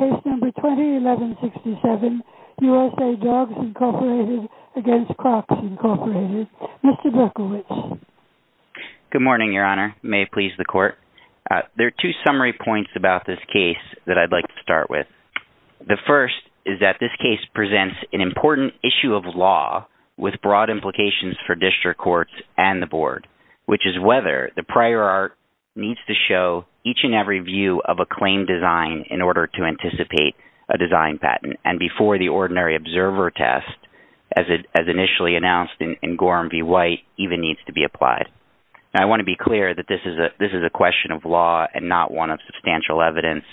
Mr. Berkovich. Good morning, Your Honor. May it please the Court. There are two summary points about this case that I'd like to start with. The first is that this case presents an important issue of law with broad implications for district courts and the Board, which is whether the prior art needs to show each and every view of a claim design in order to anticipate a design patent. And before the ordinary observer test, as initially announced in Gorham v. White, even needs to be applied. Now, I want to be clear that this is a question of law and not one of substantial evidence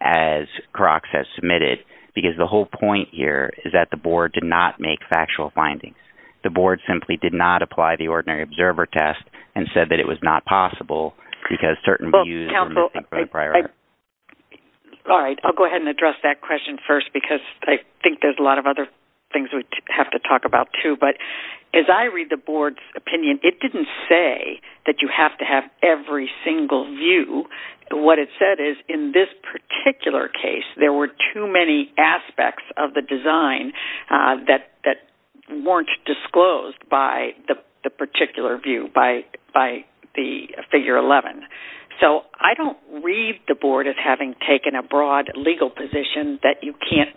as Krox has submitted, because the whole point here is that the Board did not make factual findings. The Board simply did not apply the ordinary observer test and said that it was not possible Well, counsel, I'll go ahead and address that question first because I think there's a lot of other things we have to talk about, too. But as I read the Board's opinion, it didn't say that you have to have every single view. What it said is in this particular case, there were too many aspects of the design that weren't disclosed by the particular view, by the figure 11. So I don't read the Board as having taken a broad legal position that you can't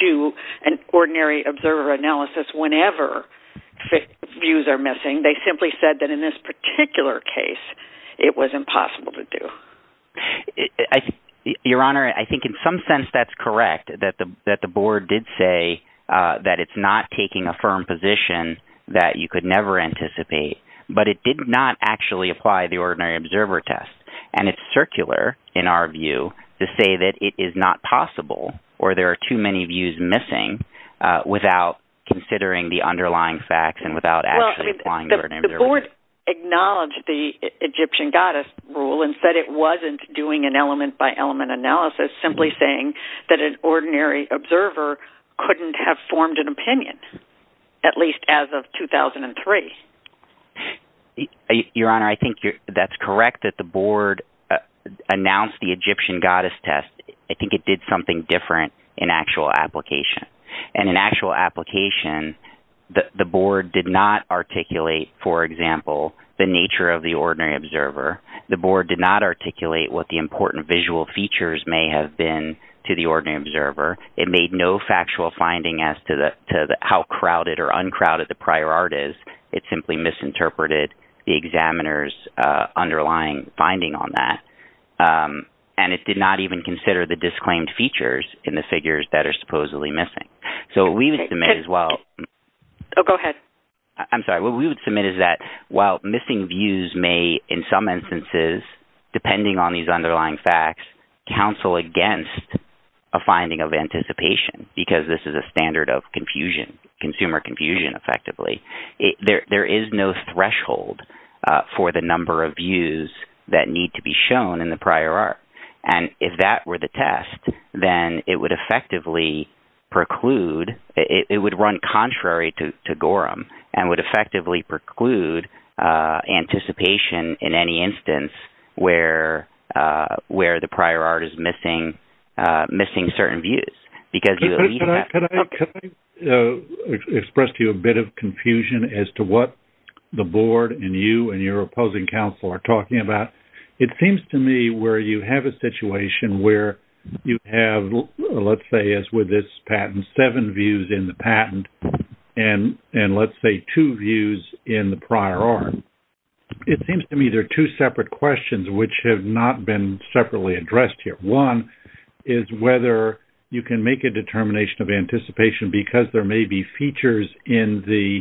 do an ordinary observer analysis whenever views are missing. They simply said that in this particular case, it was impossible to do. Your Honor, I think in some sense that's correct, that the Board did say that it's not taking a firm position that you could never anticipate, but it did not actually apply the ordinary observer test. And it's circular, in our view, to say that it is not possible or there are too many views missing without considering the underlying facts and without actually applying the ordinary observer test. The Board acknowledged the Egyptian goddess rule and said it wasn't doing an element-by-element analysis, simply saying that an ordinary observer couldn't have formed an opinion, at least as of 2003. Your Honor, I think that's correct that the Board announced the Egyptian goddess test. I think it did something different in actual application. And in actual application, the Board did not articulate, for example, the nature of the ordinary observer. The Board did not articulate what the important visual features may have been to the ordinary observer. It made no factual finding as to how crowded or uncrowded the prior art is. It simply misinterpreted the examiner's underlying finding on that. And it did not even consider the disclaimed features in the figures that are supposedly missing. So we would submit as well... Oh, go ahead. I'm sorry. What we would submit is that while missing views may, in some instances, depending on these underlying facts, counsel against a finding of anticipation, because this is a standard of confusion, consumer confusion, effectively, there is no threshold for the number of views that need to be shown in the prior art. And if that were the test, then it would effectively preclude... It would run contrary to Gorham and would effectively preclude anticipation in any instance where the prior art is missing certain views. Because you... Could I express to you a bit of confusion as to what the Board and you and your opposing counsel are talking about? It seems to me where you have a situation where you have, let's say, as with this patent, seven views in the patent and, let's say, two views in the prior art. It seems to me there are two separate questions which have not been separately addressed here. One is whether you can make a determination of anticipation because there may be features in the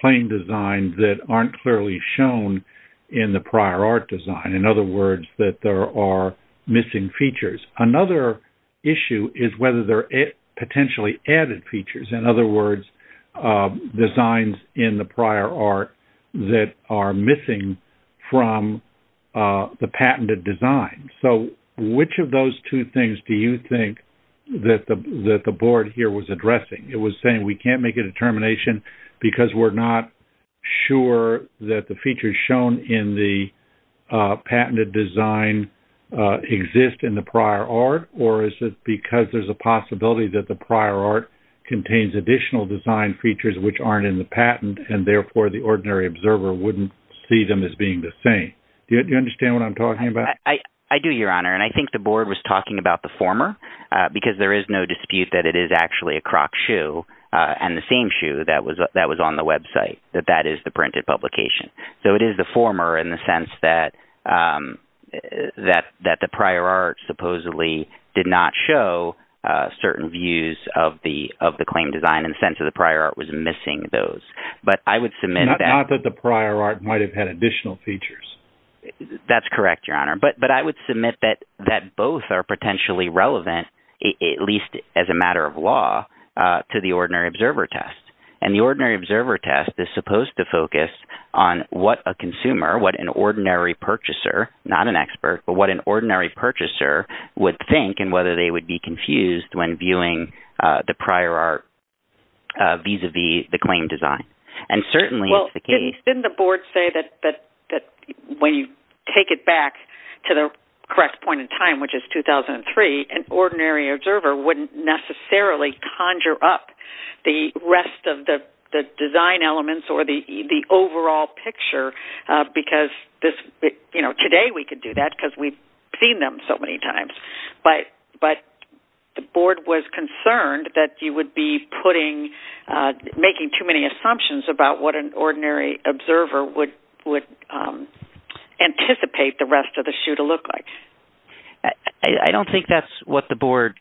claim design that aren't clearly shown in the prior art design. In other words, that there are missing features. Another issue is whether there are potentially added features, in other words, designs in the prior art that are missing from the patented design. So which of those two things do you think that the Board here was addressing? It was saying we can't make a determination because we're not sure that the features shown in the patented design exist in the prior art, or is it because there's a possibility that the prior art contains additional design features which aren't in the patent and, therefore, the ordinary observer wouldn't see them as being the same? Do you understand what I'm talking about? I do, Your Honor. And I think the Board was talking about the former because there is no dispute that it is actually a Croc shoe and the same shoe that was on the website, that that is the printed publication. So it is the former in the sense that the prior art supposedly did not show certain views of the claim design in the sense of the prior art was missing those. But I would submit that... Not that the prior art might have had additional features. That's correct, Your Honor. But I would submit that both are potentially relevant, at least as a matter of law, to the ordinary observer test. And the ordinary observer test is supposed to focus on what a consumer, what an ordinary purchaser, not an expert, but what an ordinary purchaser would think and whether they would be confused when viewing the prior art vis-a-vis the claim design. And certainly... Well, didn't the Board say that when you take it back to the correct point in time, which of the design elements or the overall picture, because today we could do that because we've seen them so many times, but the Board was concerned that you would be making too many assumptions about what an ordinary observer would anticipate the rest of the shoe to look like. I don't think that's what the Board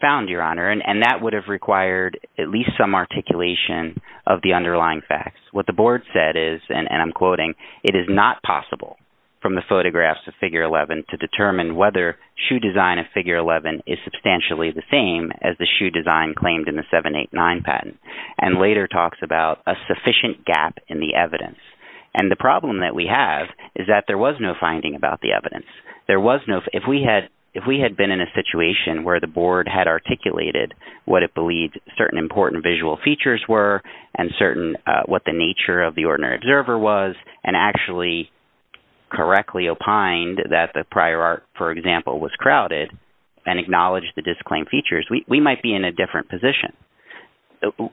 found, Your Honor, and that would have required at least a reflection of the underlying facts. What the Board said is, and I'm quoting, it is not possible from the photographs of Figure 11 to determine whether shoe design of Figure 11 is substantially the same as the shoe design claimed in the 789 patent, and later talks about a sufficient gap in the evidence. And the problem that we have is that there was no finding about the evidence. There was no... If we had been in a situation where the Board had articulated what it believed certain important visual features were and certain what the nature of the ordinary observer was and actually correctly opined that the prior art, for example, was crowded and acknowledged the disclaimed features, we might be in a different position,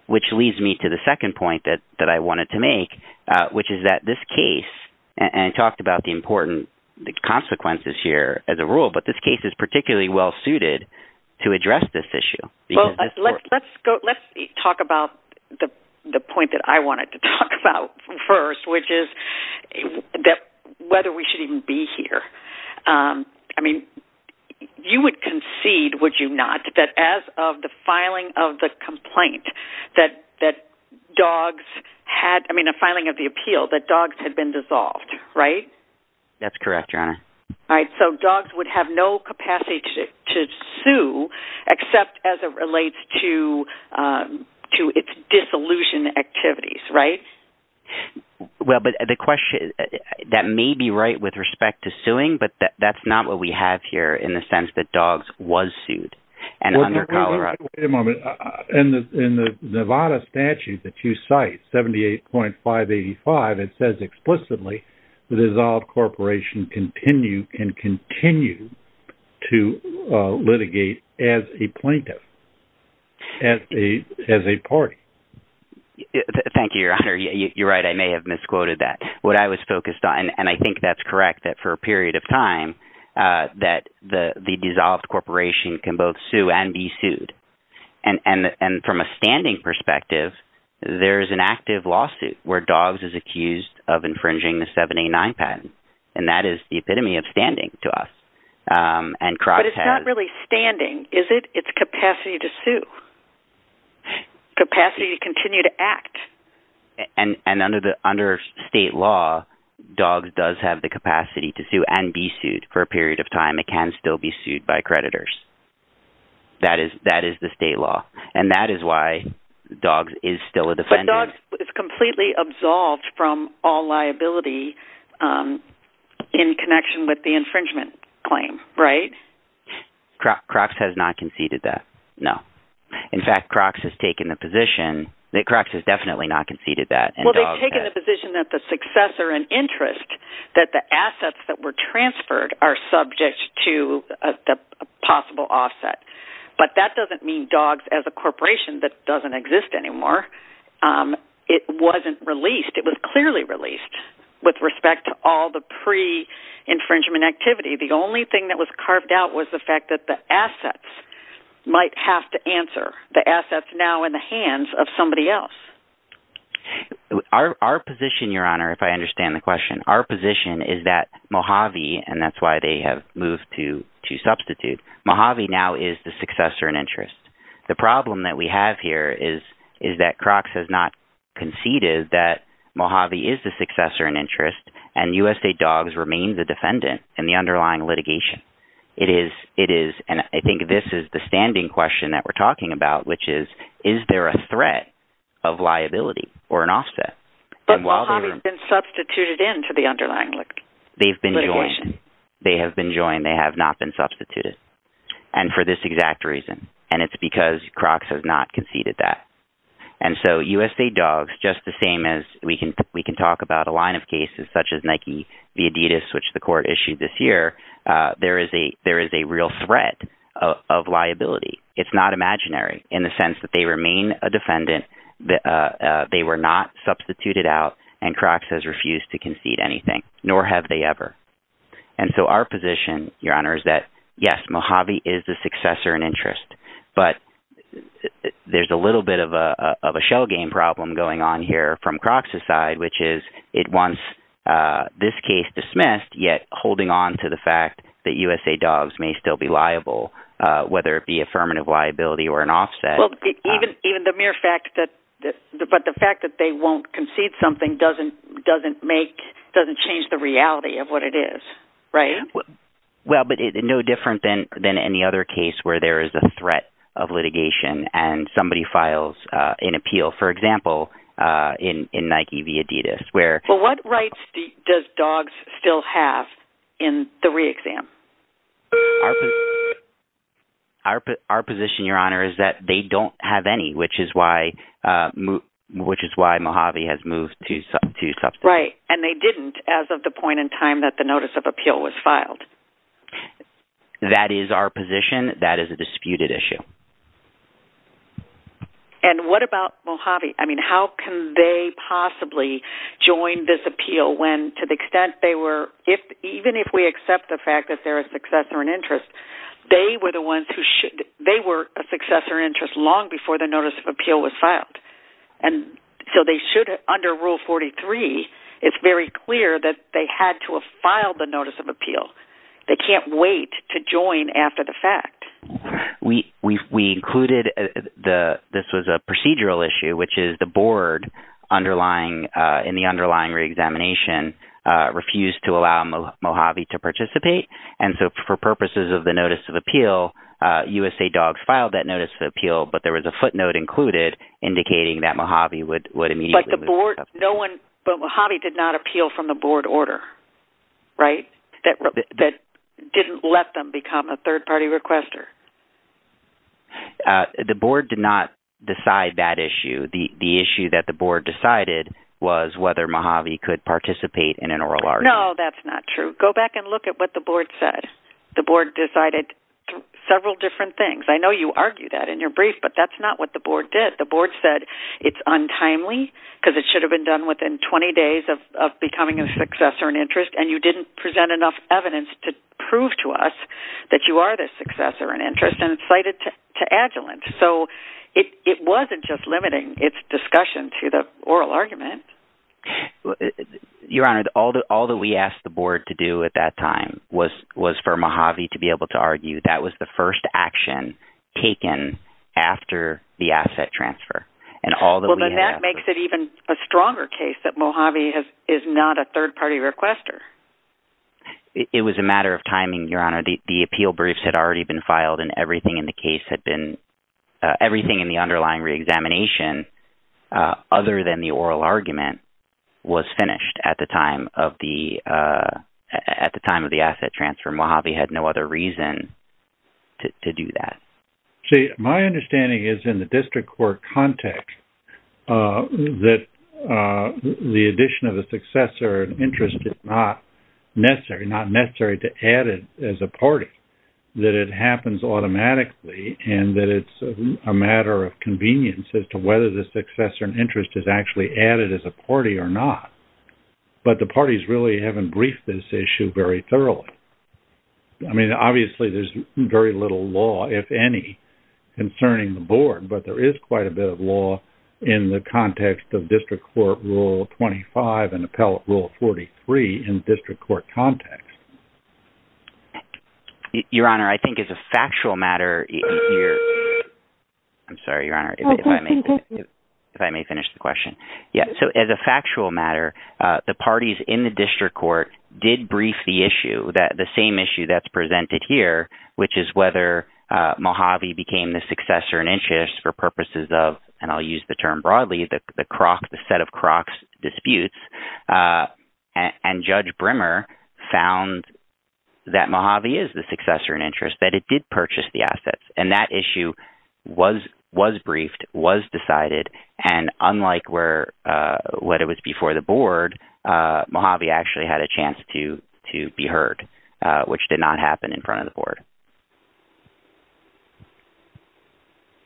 which leads me to the second point that I wanted to make, which is that this case, and I talked about the important consequences here as a rule, but this case is particularly well-suited to address this issue. Well, let's talk about the point that I wanted to talk about first, which is whether we should even be here. I mean, you would concede, would you not, that as of the filing of the complaint that dogs had... I mean, the filing of the appeal, that dogs had been dissolved, right? That's correct, Your Honor. All right. So, dogs would have no capacity to sue except as it relates to its dissolution activities, right? Well, but the question... That may be right with respect to suing, but that's not what we have here in the sense that dogs was sued and under Colorado... Wait a moment. In the Nevada statute that you cite, 78.585, it says explicitly, the dissolved corporation can continue to litigate as a plaintiff, as a party. Thank you, Your Honor. You're right. I may have misquoted that. What I was focused on... And I think that's correct, that for a period of time, that the dissolved corporation can both sue and be sued. And from a standing perspective, there is an active lawsuit where dogs is accused of is the epitome of standing to us. And CROCS has... But it's not really standing, is it? It's capacity to sue, capacity to continue to act. And under state law, dogs does have the capacity to sue and be sued. For a period of time, it can still be sued by creditors. That is the state law. And that is why dogs is still a defendant. But dogs is completely absolved from all liability in connection with the infringement claim. Right? CROCS has not conceded that. No. In fact, CROCS has taken the position that CROCS has definitely not conceded that. Well, they've taken the position that the successor and interest, that the assets that were transferred are subject to a possible offset. But that doesn't mean dogs as a corporation that doesn't exist anymore. It wasn't released. It was clearly released with respect to all the pre-infringement activity. The only thing that was carved out was the fact that the assets might have to answer. The assets now in the hands of somebody else. Our position, Your Honor, if I understand the question, our position is that Mojave, and that's why they have moved to substitute. Mojave now is the successor and interest. The problem that we have here is that CROCS has not conceded that Mojave is the successor and interest, and U.S. state dogs remain the defendant in the underlying litigation. It is, and I think this is the standing question that we're talking about, which is, is there a threat of liability or an offset? But Mojave's been substituted into the underlying litigation. They've been joined. They have been joined. And for this exact reason, and it's because CROCS has not conceded that. And so U.S. state dogs, just the same as we can, we can talk about a line of cases such as Nike v. Adidas, which the court issued this year. There is a, there is a real threat of liability. It's not imaginary in the sense that they remain a defendant. They were not substituted out and CROCS has refused to concede anything, nor have they ever. And so our position, Your Honor, is that, yes, Mojave is the successor and interest, but there's a little bit of a shell game problem going on here from CROCS's side, which is it wants this case dismissed, yet holding on to the fact that U.S. state dogs may still be liable, whether it be affirmative liability or an offset. Even, even the mere fact that, but the fact that they won't concede something doesn't, doesn't make, doesn't change the reality of what it is, right? Well, but it's no different than, than any other case where there is a threat of litigation and somebody files an appeal, for example, in, in Nike v. Adidas, where... Well, what rights does DOGS still have in the re-exam? Our position, Your Honor, is that they don't have any, which is why, which is why Mojave has moved to, to substance. Right. And they didn't as of the point in time that the notice of appeal was filed. That is our position. That is a disputed issue. And what about Mojave? I mean, how can they possibly join this appeal when, to the extent they were, if, even if we accept the fact that they're a successor and interest, they were the ones who should, they were a successor interest long before the notice of appeal was filed. And so they should, under rule 43, it's very clear that they had to have filed the notice of appeal. They can't wait to join after the fact. We, we, we included the, this was a procedural issue, which is the board underlying, in the underlying re-examination, refused to allow Mojave to participate. And so for purposes of the notice of appeal, USA DOGS filed that notice of appeal, but there was a footnote included indicating that Mojave would, would immediately. But the board, no one, but Mojave did not appeal from the board order, right? That, that didn't let them become a third party requester. The board did not decide that issue. The issue that the board decided was whether Mojave could participate in an oral argument. No, that's not true. Go back and look at what the board said. The board decided several different things. I know you argue that in your brief, but that's not what the board did. The board said it's untimely because it should have been done within 20 days of, of becoming a successor in interest. And you didn't present enough evidence to prove to us that you are the successor in interest and it's cited to, to adjuvant. So it, it wasn't just limiting its discussion to the oral argument. Your Honor, all the, all that we asked the board to do at that time was, was for Mojave to be able to argue. That was the first action taken after the asset transfer and all that we have. Well, then that makes it even a stronger case that Mojave has, is not a third party requester. It was a matter of timing, Your Honor. The appeal briefs had already been filed and everything in the case had been, uh, everything in the underlying reexamination, uh, other than the oral argument was finished at the time of the, uh, at the time of the asset transfer. Mojave had no other reason to do that. See, my understanding is in the district court context, uh, that, uh, the addition of a successor in interest is not necessary, not necessary to add it as a party, that it happens automatically and that it's a matter of convenience as to whether the successor in interest is actually added as a party or not. But the parties really haven't briefed this issue very thoroughly. I mean, obviously there's very little law, if any, concerning the board, but there is quite a bit of law in the context of district court rule 25 and appellate rule 43 in district court context. Your Honor, I think as a factual matter, I'm sorry, Your Honor, if I may finish the question. Yeah. So as a factual matter, uh, the parties in the district court did brief the issue that the same issue that's presented here, which is whether, uh, Mojave became the successor in interest for purposes of, and I'll use the term broadly, the, the croc, the set of crocs disputes, uh, and judge Brimmer found that Mojave is the successor in interest, that it did purchase the assets and that issue was, was briefed, was decided. And unlike where, uh, what it was before the board, uh, Mojave actually had a chance to, to be heard, uh, which did not happen in front of the board.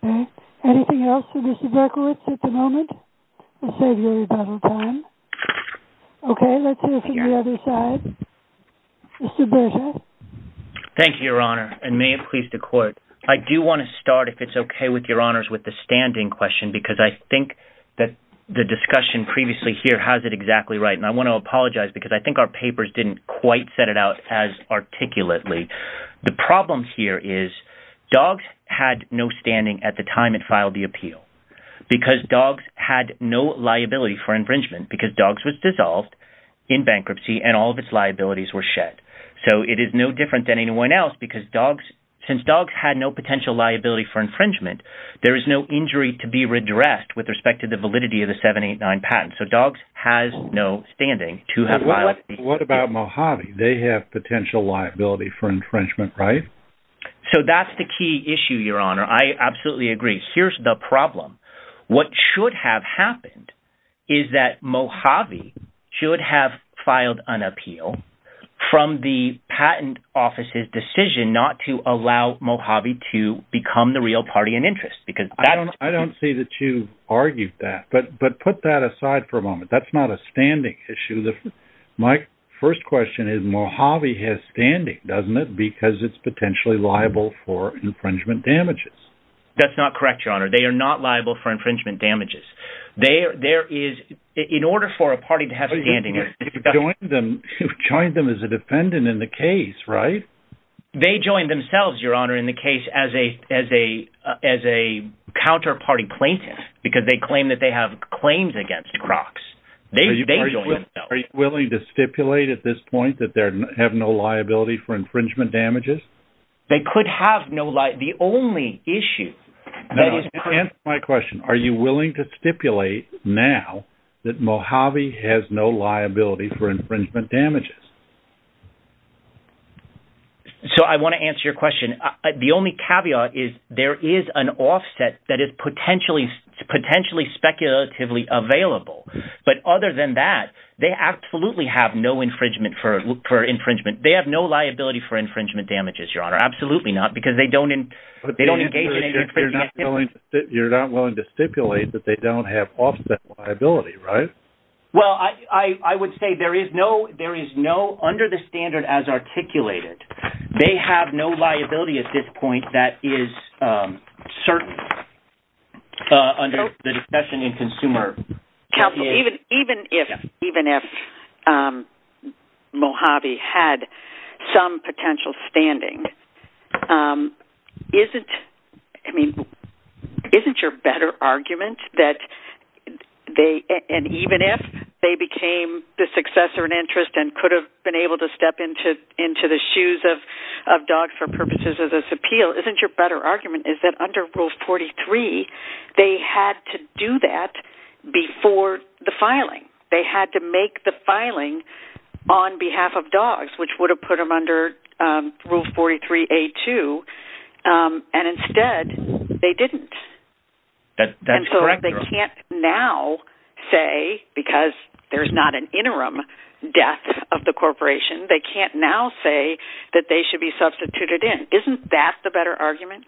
Okay. Anything else for Mr. Berkowitz at the moment? Let's save your rebuttal time. Okay. Let's hear from the other side. Mr. Berkowitz. Thank you, Your Honor. And may it please the court, I do want to start, if it's okay with Your Honors, with the standing question, because I think that the discussion previously here has it exactly right. And I want to apologize because I think our papers didn't quite set it out as articulately. The problem here is dogs had no standing at the time it filed the appeal because dogs had no liability for infringement because dogs was dissolved in bankruptcy and all of its liabilities were shed. So it is no different than anyone else because dogs, since dogs had no potential liability for infringement, there is no injury to be redressed with respect to the validity of the seven, eight, nine patents. So dogs has no standing to have. What about Mojave? They have potential liability for infringement, right? So that's the key issue, Your Honor. I absolutely agree. Here's the problem. What should have happened is that Mojave should have filed an appeal from the patent office's decision not to allow Mojave to become the real party in interest. I don't see that you've argued that, but put that aside for a moment. That's not a standing issue. My first question is Mojave has standing, doesn't it, because it's potentially liable for infringement damages. That's not correct, Your Honor. They are not liable for infringement damages. In order for a party to have standing, you've joined them as a defendant in the case, right? They joined themselves, Your Honor, in the case as a counterparty plaintiff, because they claim that they have claims against Crocs. They joined themselves. Are you willing to stipulate at this point that they have no liability for infringement damages? They could have no liability. The only issue that is correct— Answer my question. Are you willing to stipulate now that Mojave has no liability for infringement damages? So I want to answer your question. The only caveat is there is an offset that is potentially speculatively available. But other than that, they absolutely have no infringement for infringement. They have no liability for infringement damages, Your Honor. Absolutely not, because they don't engage in any infringement— But you're not willing to stipulate that they don't have offset liability, right? Well, I would say there is no—under the standard as articulated, they have no liability at this point that is certain. Under the discussion in consumer— Even if Mojave had some potential standing, isn't your better argument that they—and even if they became the successor in interest and could have been able to step into the shoes of DOG for purposes of this appeal—isn't your better argument is that under Rule 43, they had to do that before the filing? They had to make the filing on behalf of DOGS, which would have put them under Rule 43A2. And instead, they didn't. That's correct, Your Honor. They can't now say, because there's not an interim death of the corporation, they can't now say that they should be substituted in. Isn't that the better argument?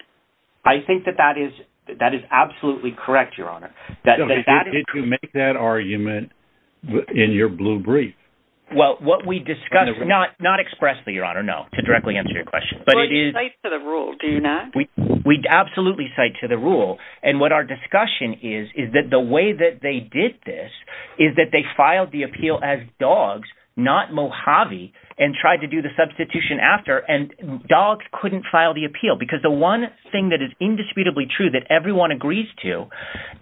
I think that that is absolutely correct, Your Honor. Did you make that argument in your blue brief? Well, what we discussed—not expressly, Your Honor, no, to directly answer your question. Well, you cite to the rule, do you not? We absolutely cite to the rule. And what our discussion is, is that the way that they did this is that they filed the appeal as DOGS, not Mojave, and tried to do the substitution after, and DOGS couldn't file the appeal. Because the one thing that is indisputably true that everyone agrees to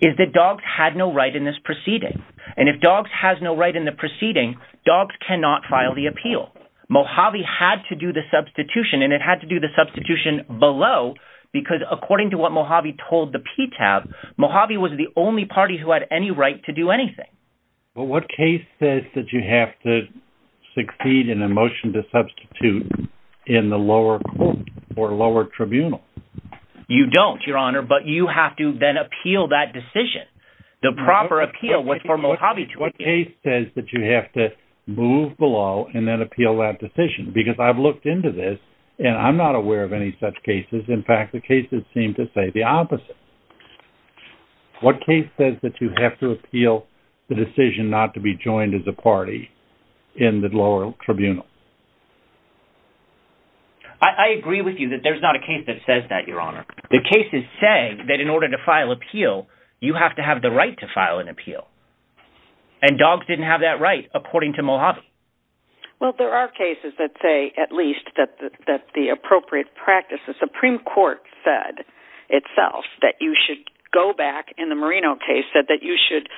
is that DOGS had no right in this proceeding. And if DOGS has no right in the proceeding, DOGS cannot file the appeal. Mojave had to do the substitution, and it had to do the substitution below, because according to what Mojave told the PTAB, Mojave was the only party who had any right to do anything. But what case says that you have to succeed in a motion to substitute in the lower court or lower tribunal? You don't, Your Honor, but you have to then appeal that decision. The proper appeal was for Mojave to appeal. What case says that you have to move below and then appeal that decision? Because I've looked into this, and I'm not aware of any such cases. In fact, the cases seem to say the opposite. What case says that you have to appeal the decision not to be joined as a party in the lower tribunal? I agree with you that there's not a case that says that, Your Honor. The cases say that in order to file appeal, you have to have the right to file an appeal. And DOGS didn't have that right, according to Mojave. Well, there are cases that say, at least, that the appropriate practice, the Supreme Court said itself, that you should go back, in the Marino case, said that you should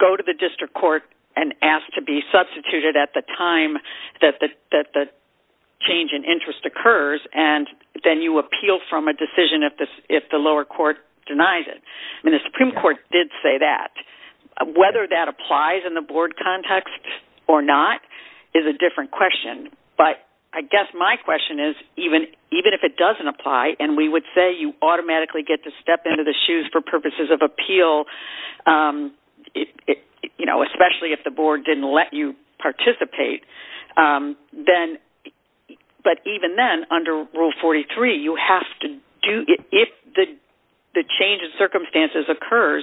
go to the district court and ask to be substituted at the time that the change in interest occurs, and then you appeal from a decision if the lower court denies it. I mean, the Supreme Court did say that. Whether that applies in the board context or not is a different question. But I guess my question is, even if it doesn't apply, and we would say you automatically get to step into the shoes for purposes of appeal, you know, especially if the board didn't let you participate, but even then, under Rule 43, you have to do it if the change in circumstances occurs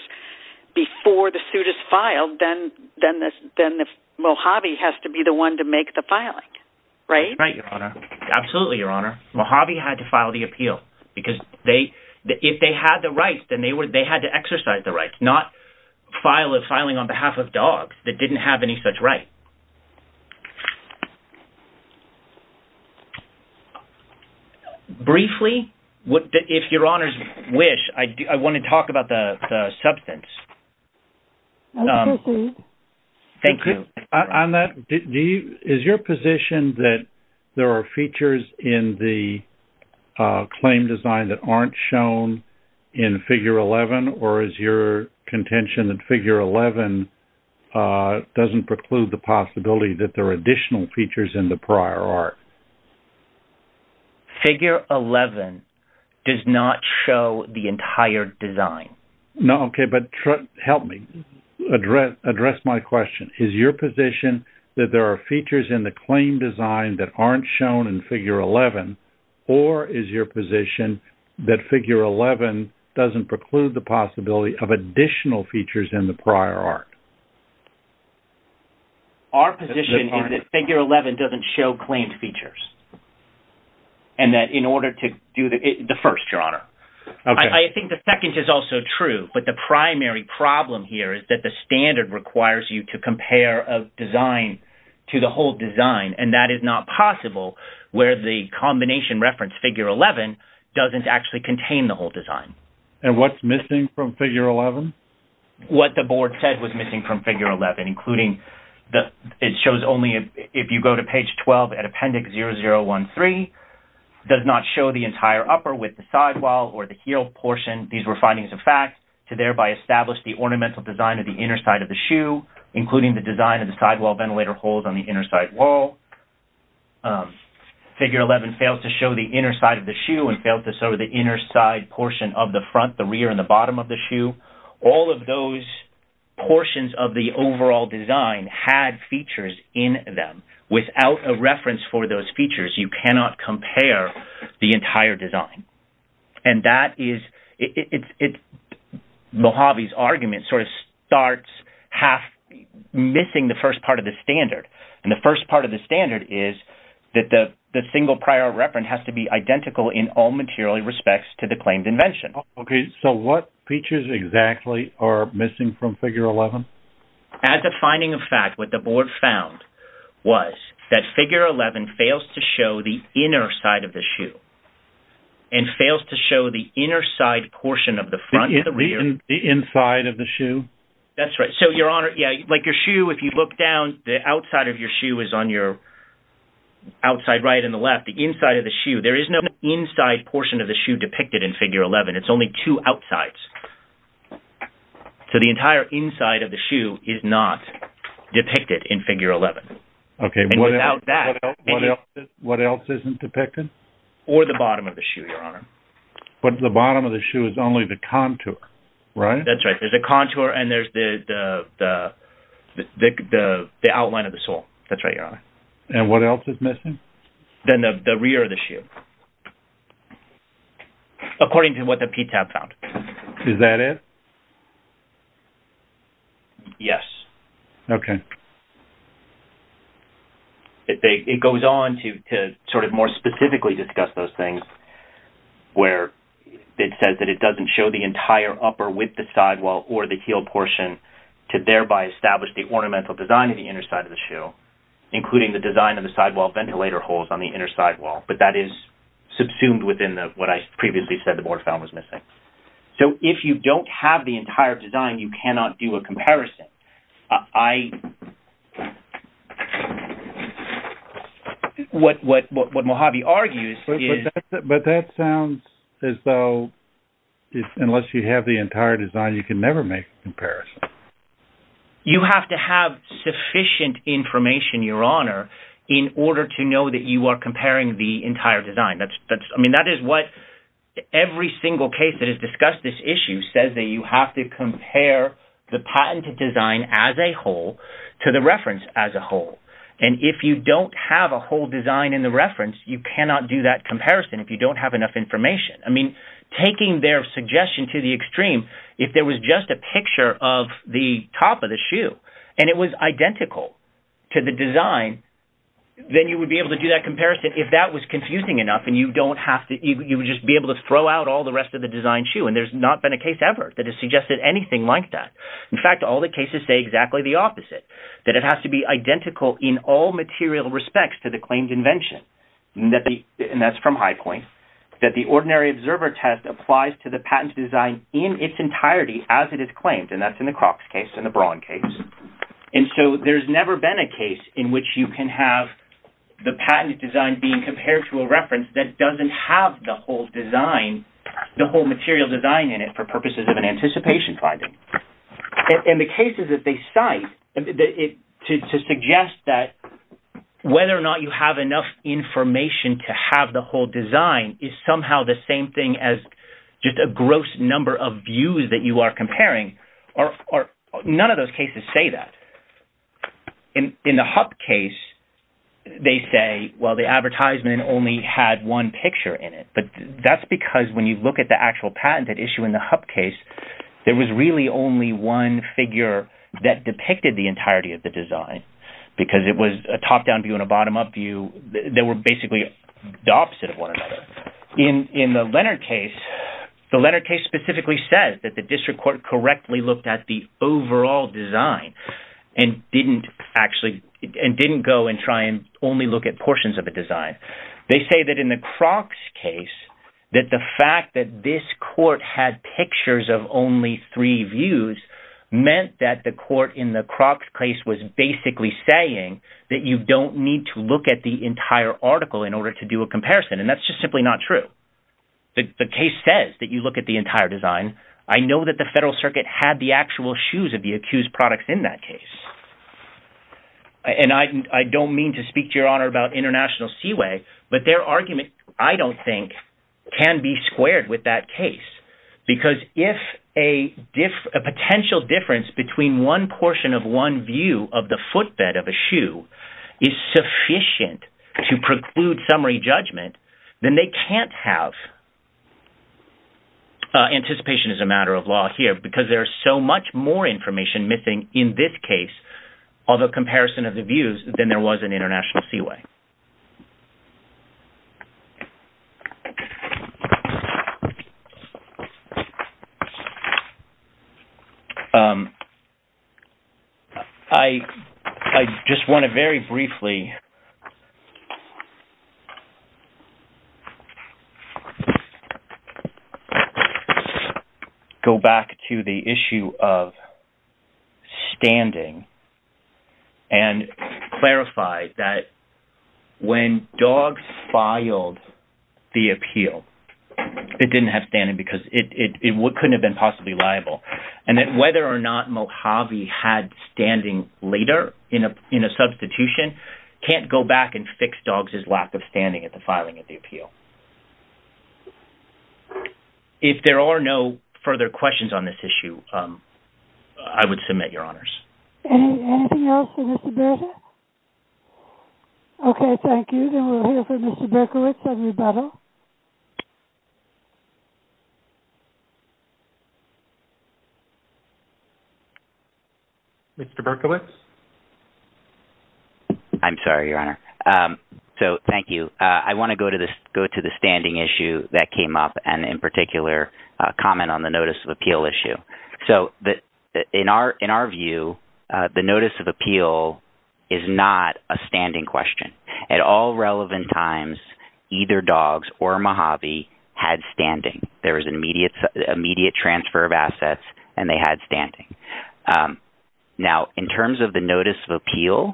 before the suit is filed, then Mojave has to be the one to make the filing, right? That's right, Your Honor. Absolutely, Your Honor. Mojave had to file the appeal, because if they had the right, then they had to exercise the right, not file a filing on behalf of DOGS that didn't have any such right. Briefly, if Your Honor's wish, I want to talk about the substance. Thank you. On that, is your position that there are features in the claim design that aren't shown in Figure 11, or is your contention that Figure 11 doesn't preclude the possibility that there are additional features in the prior art? Figure 11 does not show the entire design. No, okay, but help me address my question. Is your position that there are features in the claim design that aren't shown in Figure 11, or is your position that Figure 11 doesn't preclude the possibility of additional features in the prior art? Our position is that Figure 11 doesn't show claimed features, and that in order to do the first, Your Honor. I think the second is also true, but the primary problem here is that the standard requires you to compare a design to the whole design, and that is not possible where the combination reference, Figure 11, doesn't actually contain the whole design. And what's missing from Figure 11? What the board said was missing from Figure 11, including it shows only if you go to page 12 at Appendix 0013, does not show the entire upper with the sidewall or the heel portion. These were findings of fact to thereby establish the ornamental design of the inner side of the shoe, including the design of the sidewall ventilator holes on the inner side wall. Figure 11 fails to show the inner side of the shoe and fails to show the inner side portion of the front, the rear, and the bottom of the shoe. All of those portions of the overall design had features in them. Without a reference for those features, you cannot compare the entire design. And that is, Mojave's argument sort of starts half missing the first part of the standard. And the first part of the standard is that the single prior reference has to be identical in all material respects to the claimed invention. Okay, so what features exactly are missing from Figure 11? As a finding of fact, what the board found was that Figure 11 fails to show the inner side of the shoe and fails to show the inner side portion of the front and the rear. The inside of the shoe? That's right. Like your shoe, if you look down, the outside of your shoe is on your outside right and the left. The inside of the shoe, there is no inside portion of the shoe depicted in Figure 11. It's only two outsides. So the entire inside of the shoe is not depicted in Figure 11. Okay, what else isn't depicted? Or the bottom of the shoe, Your Honor. But the bottom of the shoe is only the contour, right? That's right. There's a contour and there's the outline of the sole. That's right, Your Honor. And what else is missing? Then the rear of the shoe, according to what the PTAB found. Is that it? Yes. Okay. It goes on to sort of more specifically discuss those things, where it says that it doesn't show the entire upper with the sidewall or the heel portion to thereby establish the ornamental design of the inner side of the shoe, including the design of the sidewall ventilator holes on the inner sidewall. But that is subsumed within what I previously said the border found was missing. So if you don't have the entire design, you cannot do a comparison. I... What Mojave argues is... But that sounds as though unless you have the entire design, you can never make a comparison. You have to have sufficient information, Your Honor, in order to know that you are comparing the entire design. I mean, that is what every single case that has discussed this issue says that you have to compare the patented design as a whole to the reference as a whole. And if you don't have a whole design in the reference, you cannot do that comparison if you don't have enough information. I mean, taking their suggestion to the extreme, if there was just a picture of the top of the shoe, and it was identical to the design, then you would be able to do that comparison if that was confusing enough. And you don't have to... You would just be able to throw out all the rest of the design shoe. And there's not been a case ever that has suggested anything like that. In fact, all the cases say exactly the opposite, that it has to be identical in all material respects to the claimed invention. And that's from High Point, that the ordinary observer test applies to the patent design in its entirety as it is claimed. And that's in the Crocs case and the Braun case. And so there's never been a case in which you can have the patent design being compared to a reference that doesn't have the whole design, the whole material design in it for purposes of an anticipation finding. In the cases that they cite, to suggest that whether or not you have enough information to have the whole design is somehow the same thing as just a gross number of views that you are comparing, or none of those cases say that. In the Hup case, they say, well, the advertisement only had one picture in it. That's because when you look at the actual patented issue in the Hup case, there was really only one figure that depicted the entirety of the design, because it was a top-down view and a bottom-up view. They were basically the opposite of one another. In the Leonard case, the Leonard case specifically says that the district court correctly looked at the overall design and didn't actually, and didn't go and try and only look at portions of the design. They say that in the Crocs case, that the fact that this court had pictures of only three views meant that the court in the Crocs case was basically saying that you don't need to look at the entire article in order to do a comparison, and that's just simply not true. The case says that you look at the entire design. I know that the Federal Circuit had the actual shoes of the accused products in that case, and I don't mean to speak to Your Honor about International Seaway, but their argument, I don't think, can be squared with that case, because if a potential difference between one portion of one view of the footbed of a shoe is sufficient to preclude summary judgment, then they can't have anticipation as a matter of law here, because there's so much more information missing in this case, although comparison of the views, then there was an International Seaway. I just want to very briefly go back to the issue of standing and clarify that when Dogg filed the appeal, it didn't have standing because it couldn't have been possibly liable, and that whether or not can't go back and fix Dogg's lack of standing at the filing of the appeal. If there are no further questions on this issue, I would submit Your Honors. Anything else for Mr. Berkowitz? Okay, thank you. Then we'll hear from Mr. Berkowitz on rebuttal. Mr. Berkowitz? I'm sorry, Your Honor. So, thank you. I want to go to the standing issue that came up and, in particular, comment on the notice of appeal issue. So, in our view, the notice of appeal is not a standing question. At all relevant times, either Dogg's or Mojave had standing. There was an immediate transfer of assets, and they had standing. Now, in terms of the notice of appeal,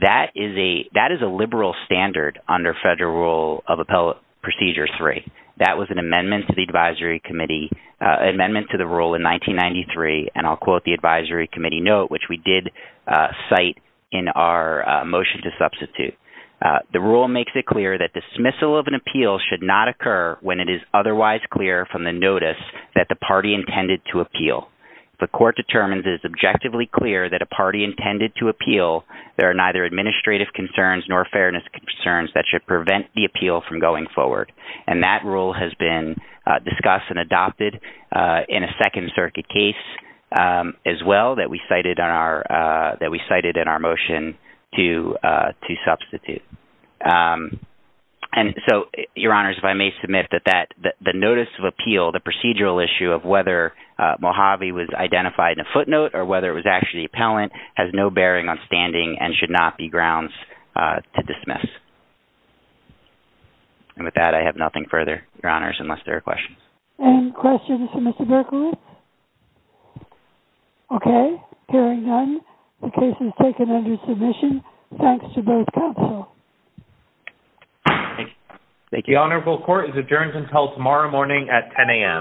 that is a liberal standard under Federal Rule of Appellate Procedure 3. That was an amendment to the advisory committee—amendment to the rule in 1993, and I'll quote the advisory committee note, which we did cite in our motion to substitute. The rule makes it clear that dismissal of an appeal should not occur when it is otherwise clear from the notice that the party intended to appeal. If the court determines it is objectively clear that a party intended to appeal, there are neither administrative concerns nor fairness concerns that should prevent the appeal from going forward. And that rule has been discussed and adopted in a Second Circuit case, as well, that we cited in our motion to substitute. And so, Your Honors, if I may submit that the notice of appeal, the procedural issue of whether Mojave was identified in a footnote or whether it was actually appellant, has no bearing on standing and should not be grounds to dismiss. And with that, I have nothing further, Your Honors, unless there are questions. Any questions for Mr. Berkowitz? Okay. Hearing none, the case is taken under submission. Thanks to both counsel. Thank you. The Honorable Court is adjourned until tomorrow morning at 10 a.m.